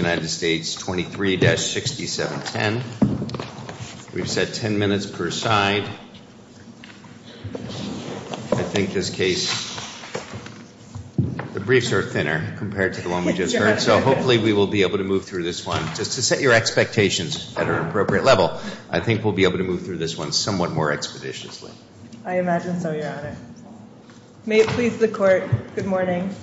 23-6710. We've set 10 minutes per side. I think this case, the briefs are thinner compared to the one we just heard, so hopefully we will be able to move through this one. Just to set your expectations at an appropriate level, I think we'll be able to move through this one somewhat more expeditiously. I imagine so, Your Honor. May it please the court. Good morning.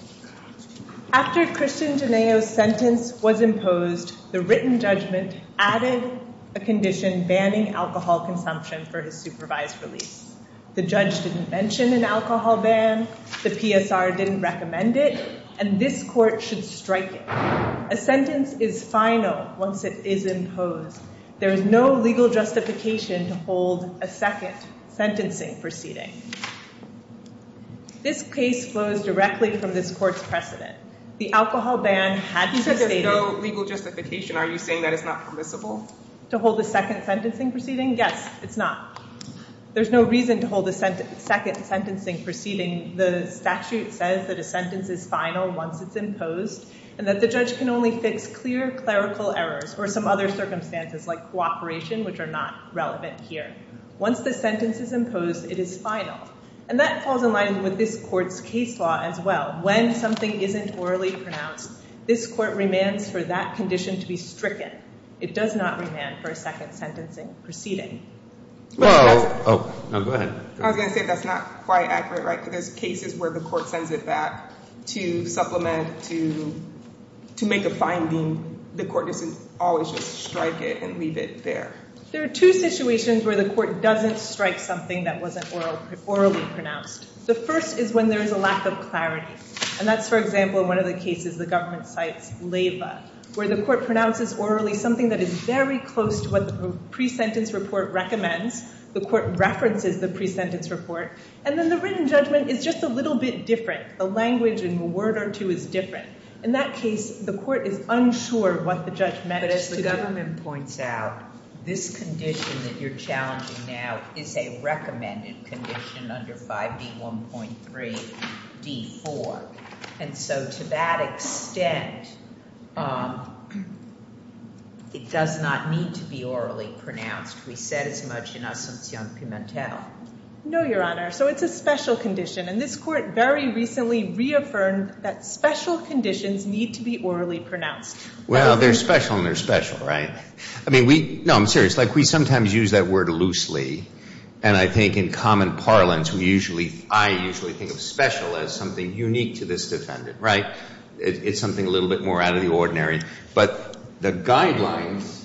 After Christian Janeo's sentence was imposed, the written judgment added a condition banning alcohol consumption for his supervised release. The judge didn't mention an alcohol ban, the PSR didn't recommend it, and this court should strike it. A sentence is final once it is imposed. There is no legal justification to hold a second sentencing proceeding. This case flows directly from this court's precedent. The alcohol ban had to be stated. You said there's no legal justification. Are you saying that it's not permissible? To hold a second sentencing proceeding? Yes, it's not. There's no reason to hold a second sentencing proceeding. The statute says that a sentence is final once it's imposed and that the judge can only fix clear clerical errors or some other circumstances like cooperation, which are not relevant here. Once the sentence is imposed, it is final. And that falls in line with this court's case law as well. When something isn't orally pronounced, this court remands for that condition to be stricken. It does not remand for a second sentencing proceeding. I was going to say that's not quite accurate, right, because there's cases where the court sends it back to supplement, to make a finding. The court doesn't always strike it and leave it there. There are two situations where the court doesn't strike something that wasn't orally pronounced. The first is when there is a lack of clarity. And that's, for example, in one of the cases the government cites LEVA, where the court pronounces orally something that is very close to what the pre-sentence report recommends. The court references the pre-sentence report. And then the written judgment is just a little bit different. The language in a word or two is different. In that case, the court is unsure what the judgment is to do. But as the government points out, this condition that you're challenging now is a recommended condition under 5D1.3D4. And so to that extent, it does not need to be orally pronounced. We said as much in Asuncion Pimentel. No, Your Honor. So it's a special condition. And this court very recently reaffirmed that special conditions need to be orally pronounced. Well, they're special and they're special, right? I mean, no, I'm serious. Like we sometimes use that word loosely. And I think in common parlance, we usually, I usually think of special as something unique to this defendant, right? It's something a little bit more out of the ordinary. But the guidelines,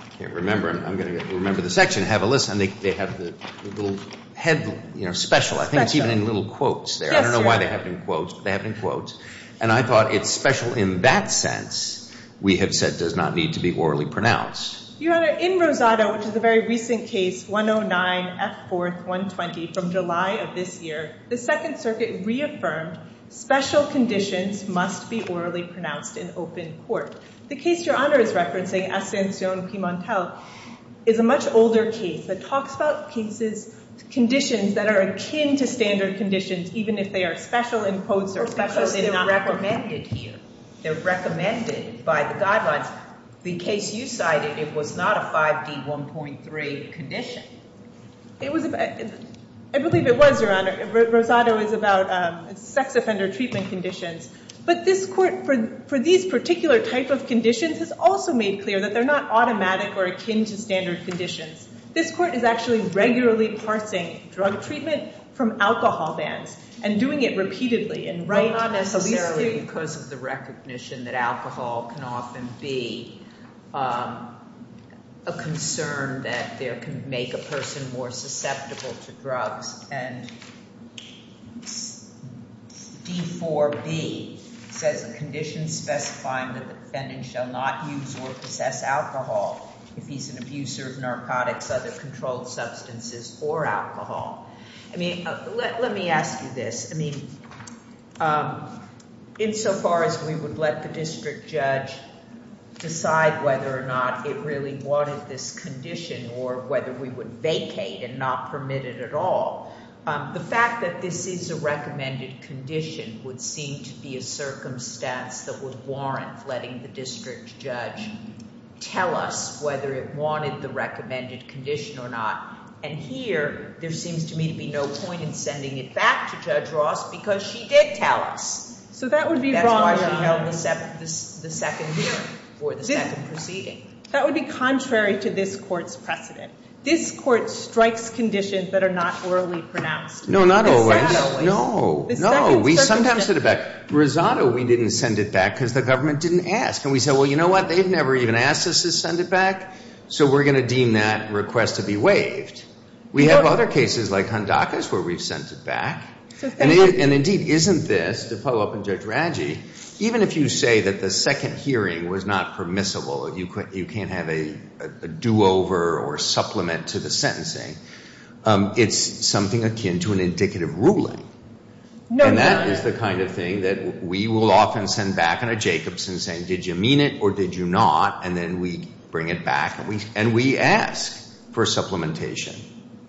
I can't remember, I'm going to remember the section, have a listen. They have the little head, you know, special. I think it's even in little quotes there. I don't know why they have it in quotes, but they have it in quotes. And I thought it's special in that sense, we have said does not need to be orally pronounced. Your Honor, in Rosado, which is a very recent case, 109 F. 4th. 120 from July of this year, the Second Circuit reaffirmed special conditions must be orally pronounced in open court. The case Your Honor is referencing, Asuncion Pimentel, is a much older case that talks about cases, conditions that are akin to standard conditions, even if they are special in quotes or special in numbers. Because they are recommended here. They are recommended by the guidelines. The case you cited, it was not a 5D. 1.3 condition. It was, I believe it was, Your Honor. Rosado is about sex offender treatment conditions. But this court, for these particular type of conditions, has also made clear that they are not automatic or akin to standard conditions. This court is actually regularly parsing drug treatment from alcohol bans and doing it repeatedly and regularly. Not necessarily because of the recognition that alcohol can often be a concern that there can make a person more susceptible to drugs. And D. 4B says the condition specifying that the defendant shall not use or possess alcohol if he is an abuser of narcotics, other controlled substances, or alcohol. I mean, let me ask you this. I mean, insofar as we would let the district judge decide whether or not it really wanted this condition or whether we would vacate and not permit it at all, the fact that this is a recommended condition would seem to be a circumstance that would warrant letting the district judge tell us whether it wanted the recommended condition or not. And here, there seems to me to be no point in sending it back to Judge Ross because she did tell us. So that would be wrong, Your Honor. That's why she held the second hearing for the second proceeding. That would be contrary to this court's precedent. This court strikes conditions that are not orally pronounced. No, not always. Rosado is. No, no. We sometimes send it back. Rosado, we didn't send it back because the government didn't ask. And we said, well, you know what? They've never even asked us to send it back, so we're going to deem that request to be waived. We have other cases like Hondacas where we've sent it back. And indeed, isn't this, to follow up on Judge Raggi, even if you say that the second hearing was not permissible, you can't have a do-over or supplement to the sentencing, it's something akin to an indicative ruling. No, Your Honor. And that is the kind of thing that we will often send back in a Jacobson saying, did you mean it or did you not? And then we bring it back and we ask for supplementation.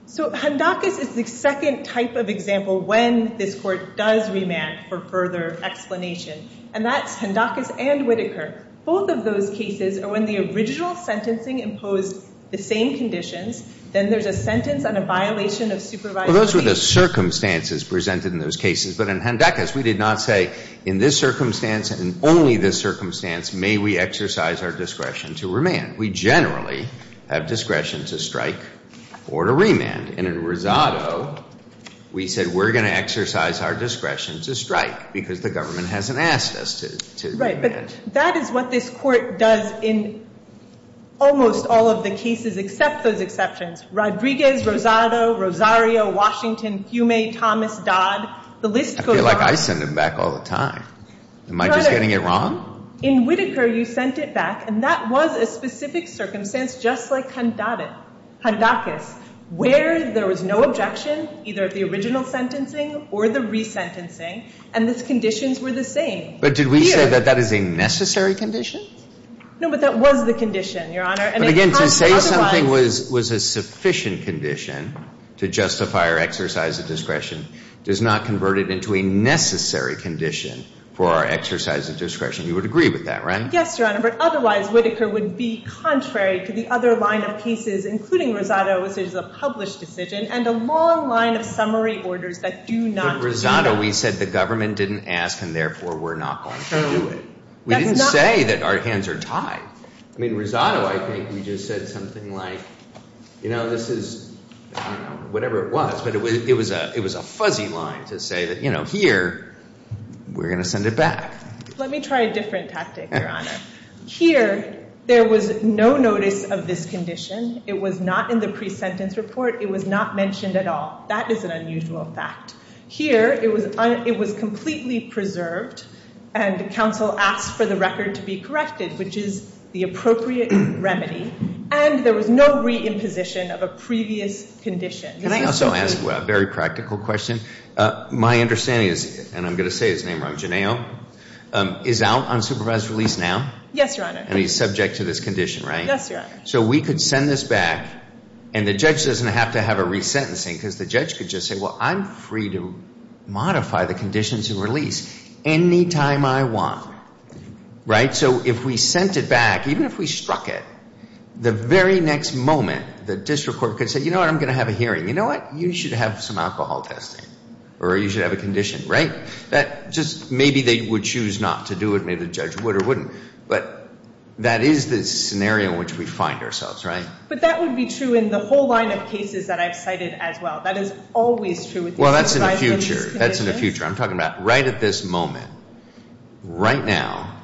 So Hondacas is the second type of example when this court does remand for further explanation. And that's Hondacas and Whitaker. Both of those cases are when the original sentencing imposed the same conditions. Then there's a sentence and a violation of supervisory So those were the circumstances presented in those cases. But in Hondacas, we did not say, in this circumstance and only this circumstance, may we exercise our discretion to remand. We generally have discretion to strike or to remand. And in Rosado, we said, we're going to exercise our discretion to strike because the government hasn't asked us to remand. Right. But that is what this Court does in almost all of the cases except those exceptions. Rodriguez, Rosado, Rosario, Washington, Fiume, Thomas, Dodd, the list goes on. I feel like I send them back all the time. Am I just getting it wrong? In Whitaker, you sent it back, and that was a specific circumstance just like Hondacas, where there was no objection either at the original sentencing or the resentencing, and the conditions were the same. But did we say that that is a necessary condition? No, but that was the condition, Your Honor. But again, to say something was a sufficient condition to justify our exercise of discretion does not convert it into a necessary condition for our exercise of discretion. You would agree with that, right? Yes, Your Honor. But otherwise, Whitaker would be contrary to the other line of cases, including Rosado's decision, a published decision, and a long line of summary orders that do not do that. But, Rosado, we said the government didn't ask, and therefore, we're not going to do it. We didn't say that our hands are tied. I mean, Rosado, I think we just said something like, you know, this is, I don't know, whatever it was, but it was a fuzzy line to say that, you know, here, we're going to send it back. Let me try a different tactic, Your Honor. Here, there was no notice of this condition. It was not in the pre-sentence report. It was not mentioned at all. That is an unusual fact. Here, it was completely preserved, and counsel asked for the record to be corrected, which is the appropriate remedy, and there was no re-imposition of a previous condition. Can I also ask a very practical question? My understanding is, and I'm going to say his name wrong, Genao, is out on supervised release now? Yes, Your Honor. And he's subject to this condition, right? Yes, Your Honor. So we could send this back, and the judge doesn't have to have a re-sentencing, because the judge could just say, well, I'm free to modify the conditions and release any time I want, right? So if we sent it back, even if we struck it, the very next moment, the district court could say, you know what, I'm going to have a hearing. You know what? You should have some alcohol testing, or you should have a condition, right? Maybe they would choose not to do it. Maybe the judge would or wouldn't. But that is the scenario in which we find ourselves, right? But that would be true in the whole line of cases that I've cited as well. That is always true with these supervised release conditions. Well, that's in the future. That's in the future. I'm talking about right at this moment. Right now,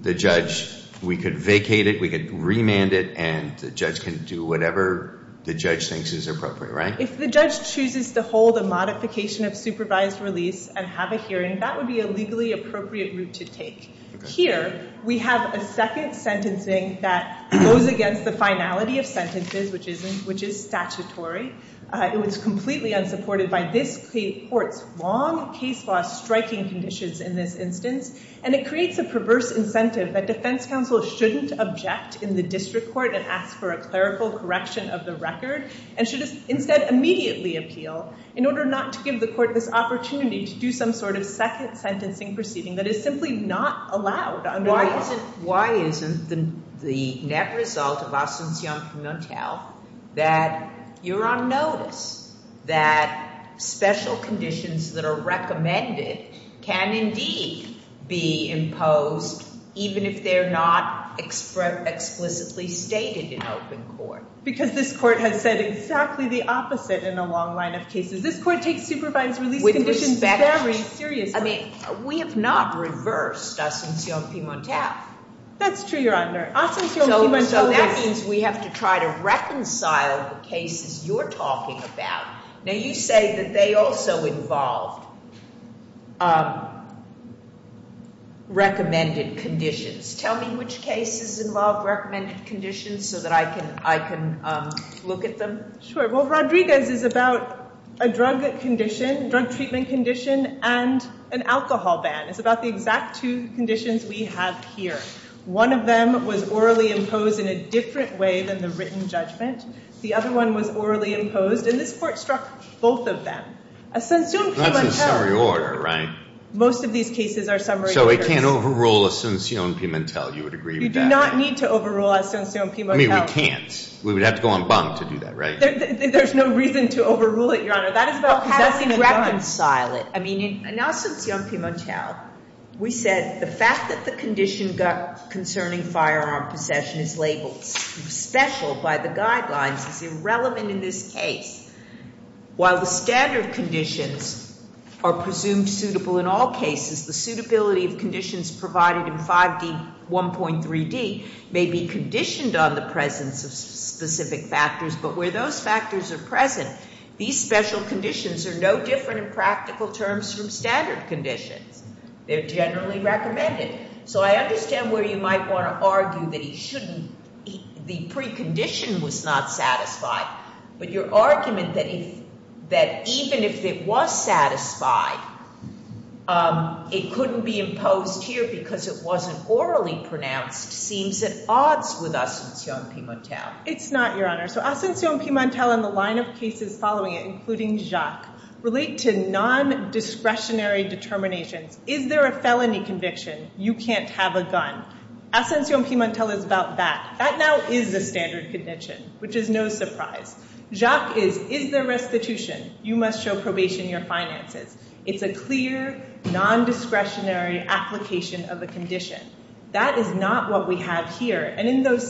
the judge, we could vacate it, we could remand it, and the judge can do whatever the judge thinks is appropriate, right? If the judge chooses to hold a modification of supervised release and have a hearing, that would be a legally appropriate route to take. Here, we have a second sentencing that goes against the finality of sentences, which is statutory. It was completely unsupported by this court's long case law striking conditions in this instance. And it creates a perverse incentive that defense counsel shouldn't object in the district court and ask for a clerical correction of the record and should instead immediately appeal in order not to give the court this opportunity to do some sort of second sentencing proceeding that is simply not allowed. Why isn't the net result of ostentation parlementaire that you're on notice that special conditions that are recommended can indeed be imposed even if they're not explicitly stated in open court? Because this court has said exactly the opposite in a long line of cases. This court takes supervised release conditions very seriously. I mean, we have not reversed ostentation parlementaire. That's true, Your Honor. So that means we have to try to reconcile the cases you're talking about. Now, you say that they also involved recommended conditions. Tell me which cases involved recommended conditions so that I can look at them. Sure, well, Rodriguez is about a drug condition, drug treatment condition, and an alcohol ban. It's about the exact two conditions we have here. One of them was orally imposed in a different way than the written judgment. The other one was orally imposed. And this court struck both of them. Ascensione pimentel. That's in summary order, right? Most of these cases are summary orders. So it can't overrule ascensione pimentel, you would agree with that? You do not need to overrule ascensione pimentel. I mean, we can't. We would have to go on bond to do that, right? There's no reason to overrule it, Your Honor. That is about having a gun. Because that's going to reconcile it. I mean, in ascensione pimentel, we said the fact that the condition concerning firearm possession is labeled special by the guidelines is irrelevant in this case. While the standard conditions are presumed suitable in all cases, the suitability of conditions provided in 5D 1.3D may be conditioned on the presence of specific factors. But where those factors are present, these special conditions are no different in practical terms from standard conditions. They're generally recommended. So I understand where you might want to argue that he shouldn't, the precondition was not satisfied. But your argument that even if it was satisfied, it couldn't be imposed here because it wasn't orally pronounced seems at odds with ascensione pimentel. It's not, Your Honor. So ascensione pimentel and the line of cases following it, including Jacques, relate to non-discretionary determinations. Is there a felony conviction? You can't have a gun. Ascensione pimentel is about that. That now is the standard condition, which is no surprise. Jacques is, is there restitution? You must show probation in your finances. It's a clear, non-discretionary application of a condition. That is not what we have here. And in that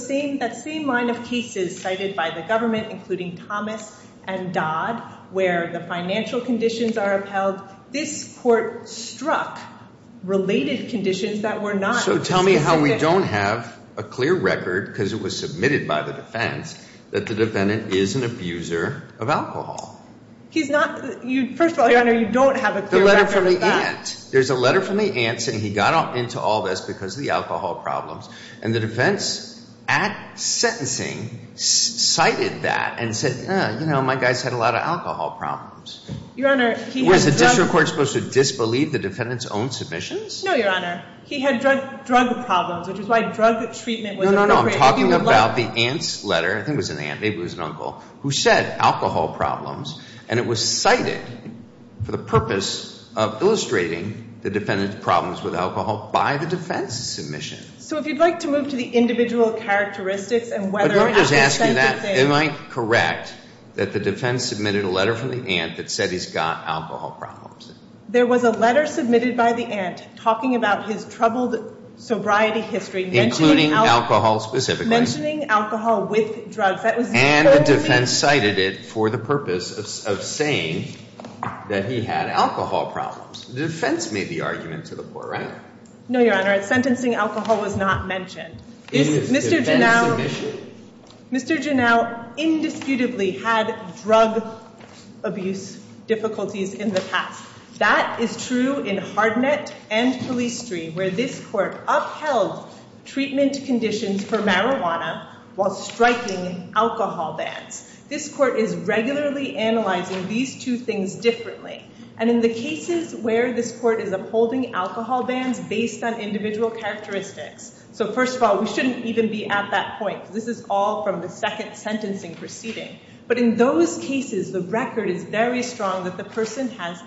same line of cases cited by the government, including Thomas and Dodd, where the financial conditions are upheld, this court struck related conditions that were not specific. So tell me how we don't have a clear record, because it was submitted by the defense, that the defendant is an abuser of alcohol. He's not. First of all, Your Honor, you don't have a clear record of that. There's a letter from the aunt saying he got into all this because of the alcohol problems. And the defense, at sentencing, cited that and said, you know, my guys had a lot of alcohol problems. Your Honor, he had a drug. Was the district court supposed to disbelieve the defendant's own submissions? No, Your Honor. He had drug problems, which is why drug treatment was No, no, no. I'm talking about the aunt's letter. I think it was an aunt, maybe it was an uncle, who said alcohol problems. And it was cited for the purpose of illustrating the defendant's problems with alcohol by the defense's submission. So if you'd like to move to the individual characteristics and whether or not the sentence is fair. Am I correct that the defense submitted a letter from the aunt that said he's got alcohol problems? There was a letter submitted by the aunt talking about his troubled sobriety history, including alcohol specifically. Mentioning alcohol with drugs. That was the purpose of the defense. And the defense cited it for the purpose of saying that he had alcohol problems. The defense made the argument to the court, right? No, Your Honor. Sentencing alcohol was not mentioned. In the defense's submission? Mr. Janau indisputably had drug abuse difficulties in the past. That is true in Hardnet and Police Street, where this court upheld treatment conditions for marijuana while striking alcohol bans. This court is regularly analyzing these two things differently. And in the cases where this court is upholding alcohol bans based on individual characteristics. So first of all, we shouldn't even be at that point. This is all from the second sentencing proceeding. But in those cases, the record is very strong that the person has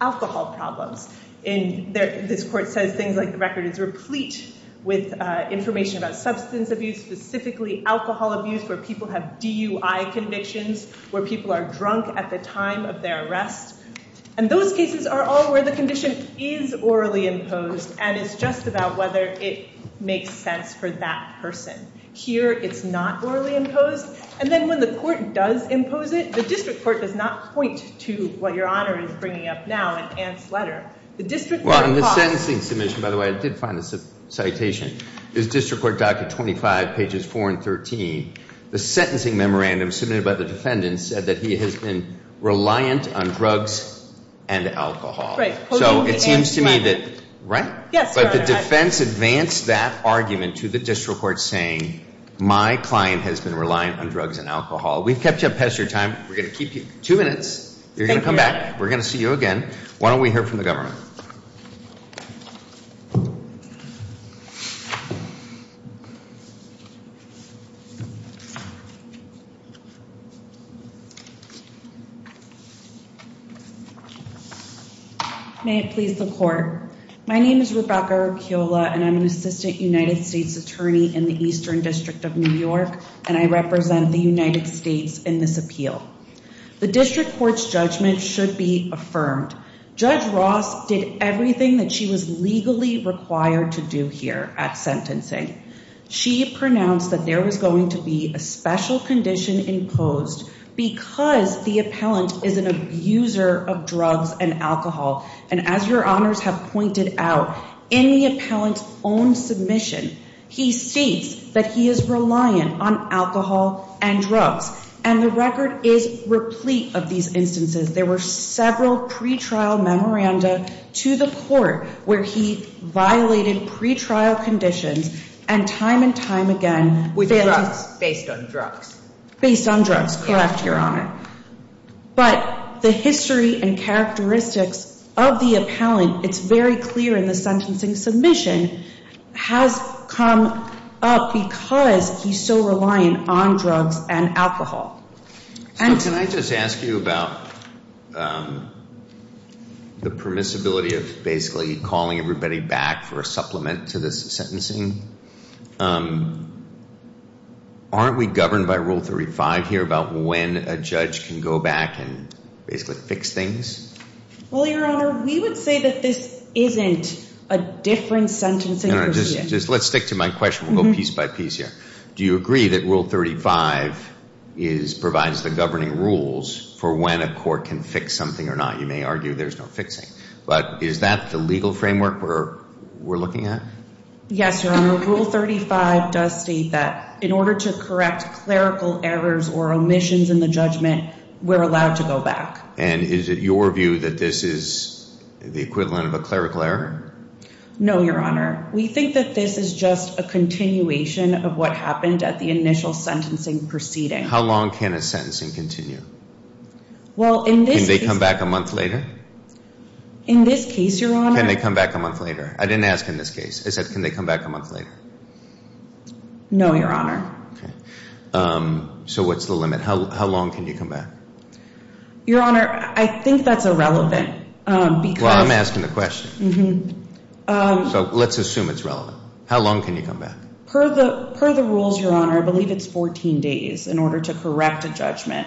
alcohol problems. This court says things like the record is replete with information about substance abuse, specifically alcohol abuse where people have DUI convictions, where people are drunk at the time of their arrest. And those cases are all where the condition is orally imposed. And it's just about whether it makes sense for that person. Here, it's not orally imposed. And then when the court does impose it, the district court does not point to what Your Honor is bringing up now in Ant's letter. The district court paused. Well, in the sentencing submission, by the way, I did find this citation. It's District Court Document 25, pages 4 and 13. The sentencing memorandum submitted by the defendant said that he has been reliant on drugs and alcohol. So it seems to me that, right? But the defense advanced that argument to the district court saying my client has been reliant on drugs and alcohol. We've kept you up past your time. We're going to keep you two minutes. You're going to come back. We're going to see you again. Why don't we hear from the government? May it please the court. My name is Rebecca Arquiola. And I'm an assistant United States attorney in the Eastern District of New York. And I represent the United States in this appeal. The district court's judgment should be affirmed. Judge Ross did everything that she was legally required to do here at sentencing. She pronounced that there was going to be a special condition imposed because the appellant is an abuser of drugs and alcohol. And as your honors have pointed out, in the appellant's own submission, he states that he is reliant on alcohol and drugs. And the record is replete of these instances. There were several pretrial memoranda to the court where he violated pretrial conditions. And time and time again, with drugs. Based on drugs. Based on drugs, correct, your honor. But the history and characteristics of the appellant, it's very clear in the sentencing submission, has come up because he's so reliant on drugs and alcohol. And- So can I just ask you about the permissibility of basically calling everybody back for a supplement to this sentencing? Aren't we governed by rule 35 here about when a judge can go back and basically fix things? Well, your honor, we would say that this isn't a different sentencing procedure. Just let's stick to my question. We'll go piece by piece here. Do you agree that rule 35 provides the governing rules for when a court can fix something or not? You may argue there's no fixing. But is that the legal framework we're looking at? Yes, your honor. Rule 35 does state that in order to correct clerical errors or omissions in the judgment, we're allowed to go back. And is it your view that this is the equivalent of a clerical error? No, your honor. We think that this is just a continuation of what happened at the initial sentencing proceeding. How long can a sentencing continue? Well, in this case- Can they come back a month later? In this case, your honor- Can they come back a month later? I didn't ask in this case. I said, can they come back a month later? No, your honor. Okay. So what's the limit? How long can you come back? Your honor, I think that's irrelevant because- Well, I'm asking the question. So let's assume it's relevant. How long can you come back? Per the rules, your honor, I believe it's 14 days in order to correct a judgment.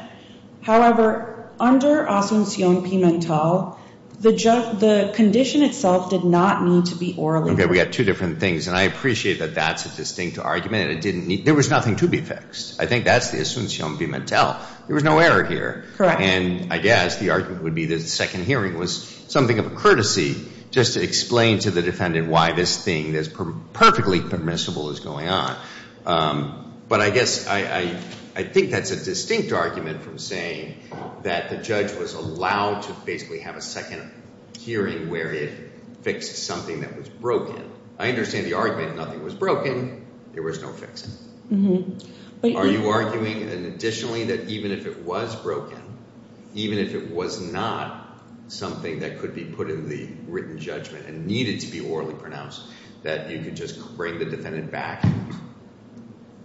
However, under Asuncion Pimental, the condition itself did not need to be orally- Okay, we got two different things. And I appreciate that that's a distinct argument. There was nothing to be fixed. I think that's the Asuncion Pimental. There was no error here. And I guess the argument would be that the second hearing was something of a courtesy just to explain to the defendant why this thing that's perfectly permissible is going on. But I guess I think that's a distinct argument from saying that the judge was allowed to basically have a second hearing where it fixed something that was broken. I understand the argument, nothing was broken. There was no fixing. Mm-hmm. Are you arguing, additionally, that even if it was broken, even if it was not something that could be put in the written judgment and needed to be orally pronounced, that you could just bring the defendant back?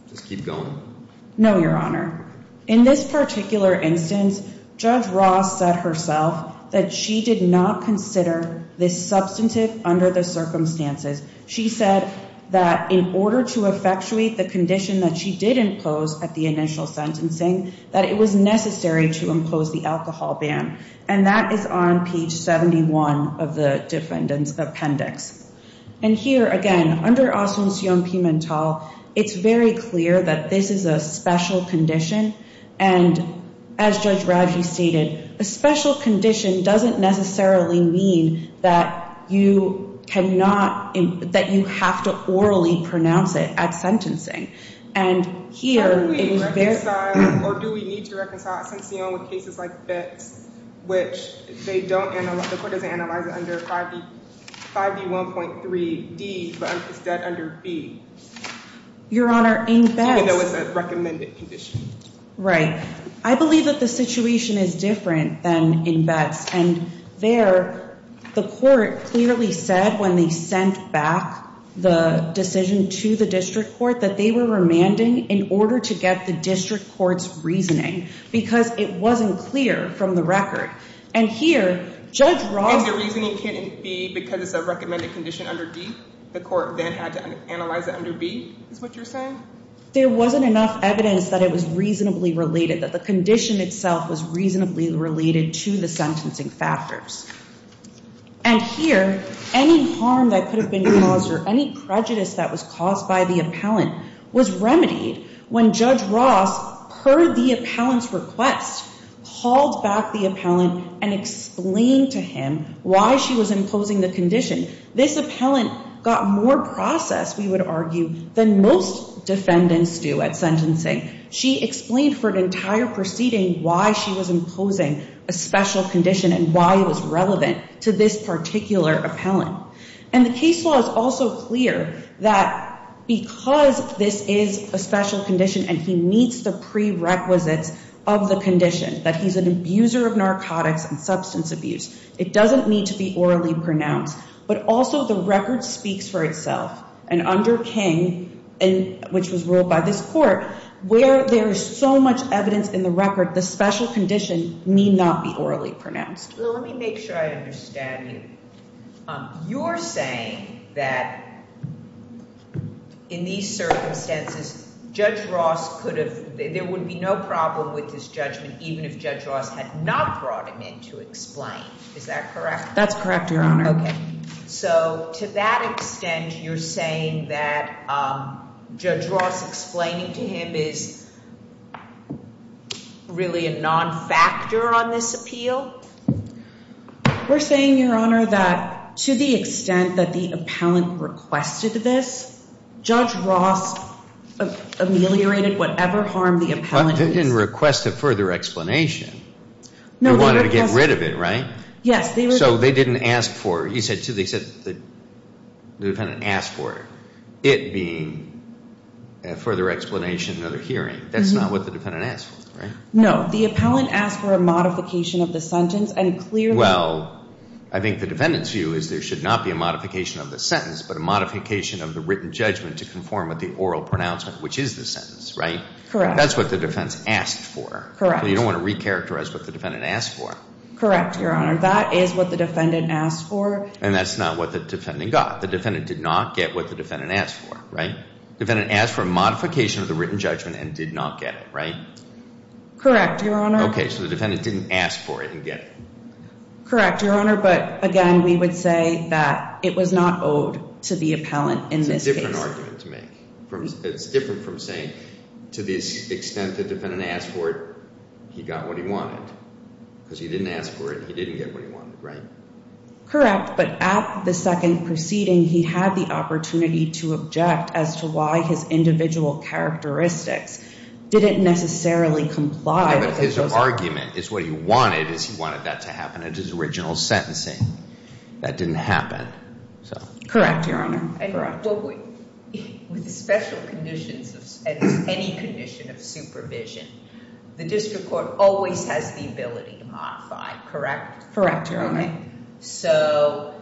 Just keep going. No, your honor. In this particular instance, Judge Ross said herself that she did not consider this substantive under the circumstances. She said that in order to effectuate the condition that she did impose at the initial sentencing, that it was necessary to impose the alcohol ban. And that is on page 71 of the defendant's appendix. And here, again, under Asuncion Pimental, it's very clear that this is a special condition. And as Judge Raggi stated, a special condition doesn't necessarily mean that you cannot, that you have to orally pronounce it at sentencing. And here, it is very- Have we reconciled, or do we need to reconcile Asuncion with cases like Betz, which they don't, the court doesn't analyze it under 5D1.3D, but it's dead under B. Your honor, in Betz- Even though it's a recommended condition. Right. I believe that the situation is different than in Betz. And there, the court clearly said when they sent back the decision to the district court that they were remanding in order to get the district court's reasoning, because it wasn't clear from the record. And here, Judge Raggi- And the reasoning can't be because it's a recommended condition under D? The court then had to analyze it under B, is what you're saying? There wasn't enough evidence that it was reasonably related, that the condition itself was reasonably related to the sentencing factors. And here, any harm that could have been caused, or any prejudice that was caused by the appellant was remedied when Judge Ross, per the appellant's request, called back the appellant and explained to him why she was imposing the condition. This appellant got more process, we would argue, than most defendants do at sentencing. She explained for an entire proceeding why she was imposing a special condition and why it was relevant to this particular appellant. And the case law is also clear that because this is a special condition and he meets the prerequisites of the condition, that he's an abuser of narcotics and substance abuse, it doesn't need to be orally pronounced. But also, the record speaks for itself. And under King, which was ruled by this court, where there is so much evidence in the record that the special condition need not be orally pronounced. Well, let me make sure I understand you. You're saying that in these circumstances, Judge Ross could have, there would be no problem with this judgment even if Judge Ross had not brought him in to explain. Is that correct? That's correct, Your Honor. So, to that extent, you're saying that Judge Ross explaining to him is really a non-factor on this appeal? We're saying, Your Honor, that to the extent that the appellant requested this, Judge Ross ameliorated whatever harm the appellant is. But they didn't request a further explanation. No, they requested- They wanted to get rid of it, right? Yes, they requested- So, they didn't ask for it. You said, too, they said the defendant asked for it. It being a further explanation at a hearing, that's not what the defendant asked for, right? No, the appellant asked for a modification of the sentence and clearly- Well, I think the defendant's view is there should not be a modification of the sentence, but a modification of the written judgment to conform with the oral pronouncement, which is the sentence, right? Correct. That's what the defense asked for. Correct. You don't want to recharacterize what the defendant asked for. Correct, Your Honor. That is what the defendant asked for. And that's not what the defendant got. The defendant did not get what the defendant asked for, right? Defendant asked for a modification of the written judgment and did not get it, right? Correct, Your Honor. Okay, so the defendant didn't ask for it and get it. Correct, Your Honor, but again, we would say that it was not owed to the appellant in this case. It's a different argument to make. It's different from saying, to the extent the defendant asked for it, he got what he wanted. Because he didn't ask for it, he didn't get what he wanted, right? Correct, but at the second proceeding, he had the opportunity to object as to why his individual characteristics didn't necessarily comply with the clause. Yeah, but his argument is what he wanted is he wanted that to happen at his original sentencing. That didn't happen, so. Correct, Your Honor. And with special conditions, at least any condition of supervision, the district court always has the ability to modify, correct? Correct, Your Honor. So,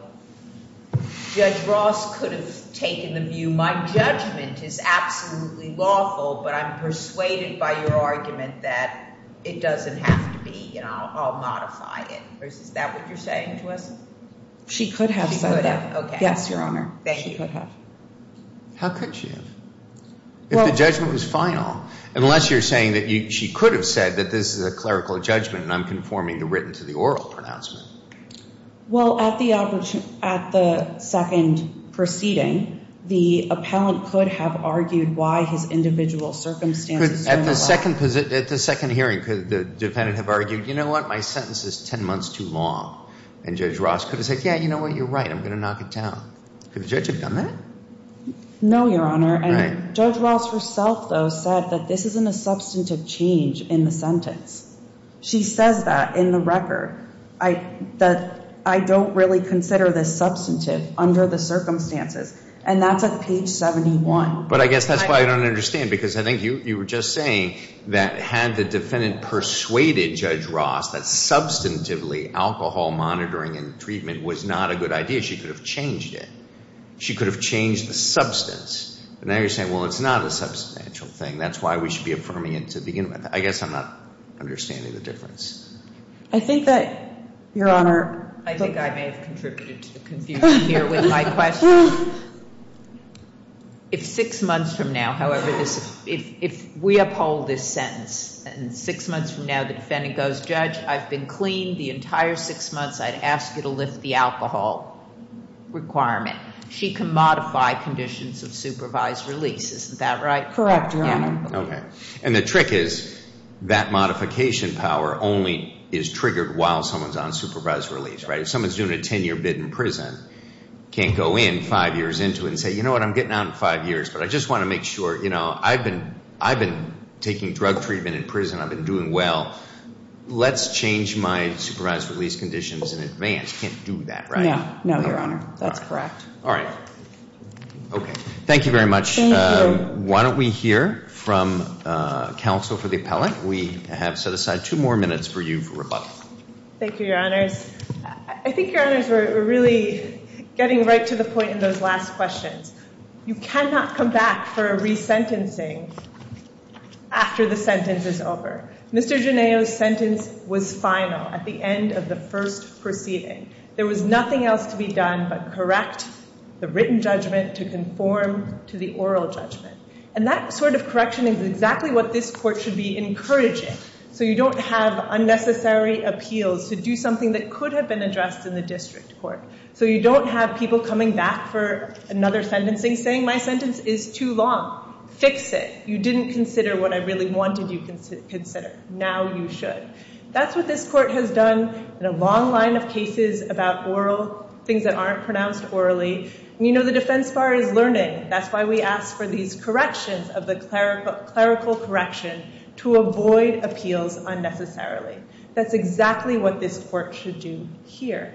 Judge Ross could have taken the view, my judgment is absolutely lawful, but I'm persuaded by your argument that it doesn't have to be, you know, I'll modify it, or is that what you're saying to us? She could have said that. She could have, okay. Yes, Your Honor. Thank you. She could have. How could she have? If the judgment was final, unless you're saying that she could have said that this is a clerical judgment and I'm conforming the written to the oral pronouncement. Well, at the second proceeding, the appellant could have argued why his individual circumstances don't allow. Could, at the second hearing, could the defendant have argued, you know what, my sentence is 10 months too long, and Judge Ross could have said, yeah, you know what, you're right, I'm gonna knock it down. Could the judge have done that? No, Your Honor. And Judge Ross herself, though, said that this isn't a substantive change in the sentence. She says that in the record, that I don't really consider this substantive under the circumstances. And that's at page 71. But I guess that's why I don't understand, because I think you were just saying that had the defendant persuaded Judge Ross that substantively alcohol monitoring and treatment was not a good idea, she could have changed it. She could have changed the substance. But now you're saying, well, it's not a substantial thing. That's why we should be affirming it to begin with. I guess I'm not understanding the difference. I think that, Your Honor. I think I may have contributed to the confusion here with my question. If six months from now, however, if we uphold this sentence, and six months from now the defendant goes, Judge, I've been clean the entire six months, I'd ask you to lift the alcohol requirement. She can modify conditions of supervised release, isn't that right? Correct, Your Honor. Okay. And the trick is, that modification power only is triggered while someone's on supervised release, right, if someone's doing a 10 year bid in prison, can't go in five years into it and say, you know what, I'm getting out in five years, but I just wanna make sure, you know, I've been taking drug treatment in prison, I've been doing well, let's change my supervised release conditions in advance. Can't do that, right? No, no, Your Honor, that's correct. All right, okay. Thank you very much. Thank you. Why don't we hear from counsel for the appellate? We have set aside two more minutes for you for rebuttal. Thank you, Your Honors. I think, Your Honors, we're really getting right to the point in those last questions. You cannot come back for a resentencing after the sentence is over. Mr. Genao's sentence was final at the end of the first proceeding. There was nothing else to be done but correct the written judgment to conform to the oral judgment. And that sort of correction is exactly what this court should be encouraging. So you don't have unnecessary appeals to do something that could have been addressed in the district court. So you don't have people coming back for another sentencing saying my sentence is too long, fix it. You didn't consider what I really wanted you to consider. Now you should. That's what this court has done in a long line of cases about oral, things that aren't pronounced orally. You know the defense bar is learning. That's why we ask for these corrections of the clerical correction to avoid appeals unnecessarily. That's exactly what this court should do here.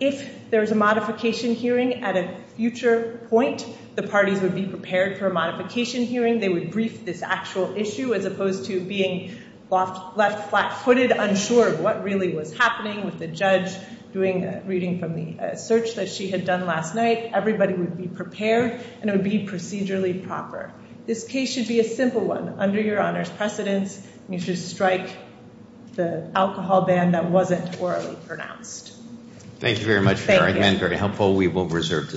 If there's a modification hearing at a future point, the parties would be prepared for a modification hearing. They would brief this actual issue as opposed to being left flat-footed, unsure of what really was happening with the judge doing a reading from the search that she had done last night. Everybody would be prepared and it would be procedurally proper. This case should be a simple one under your honor's precedence. You should strike the alcohol ban that wasn't orally pronounced. Thank you very much for your argument. Very helpful. We will reserve.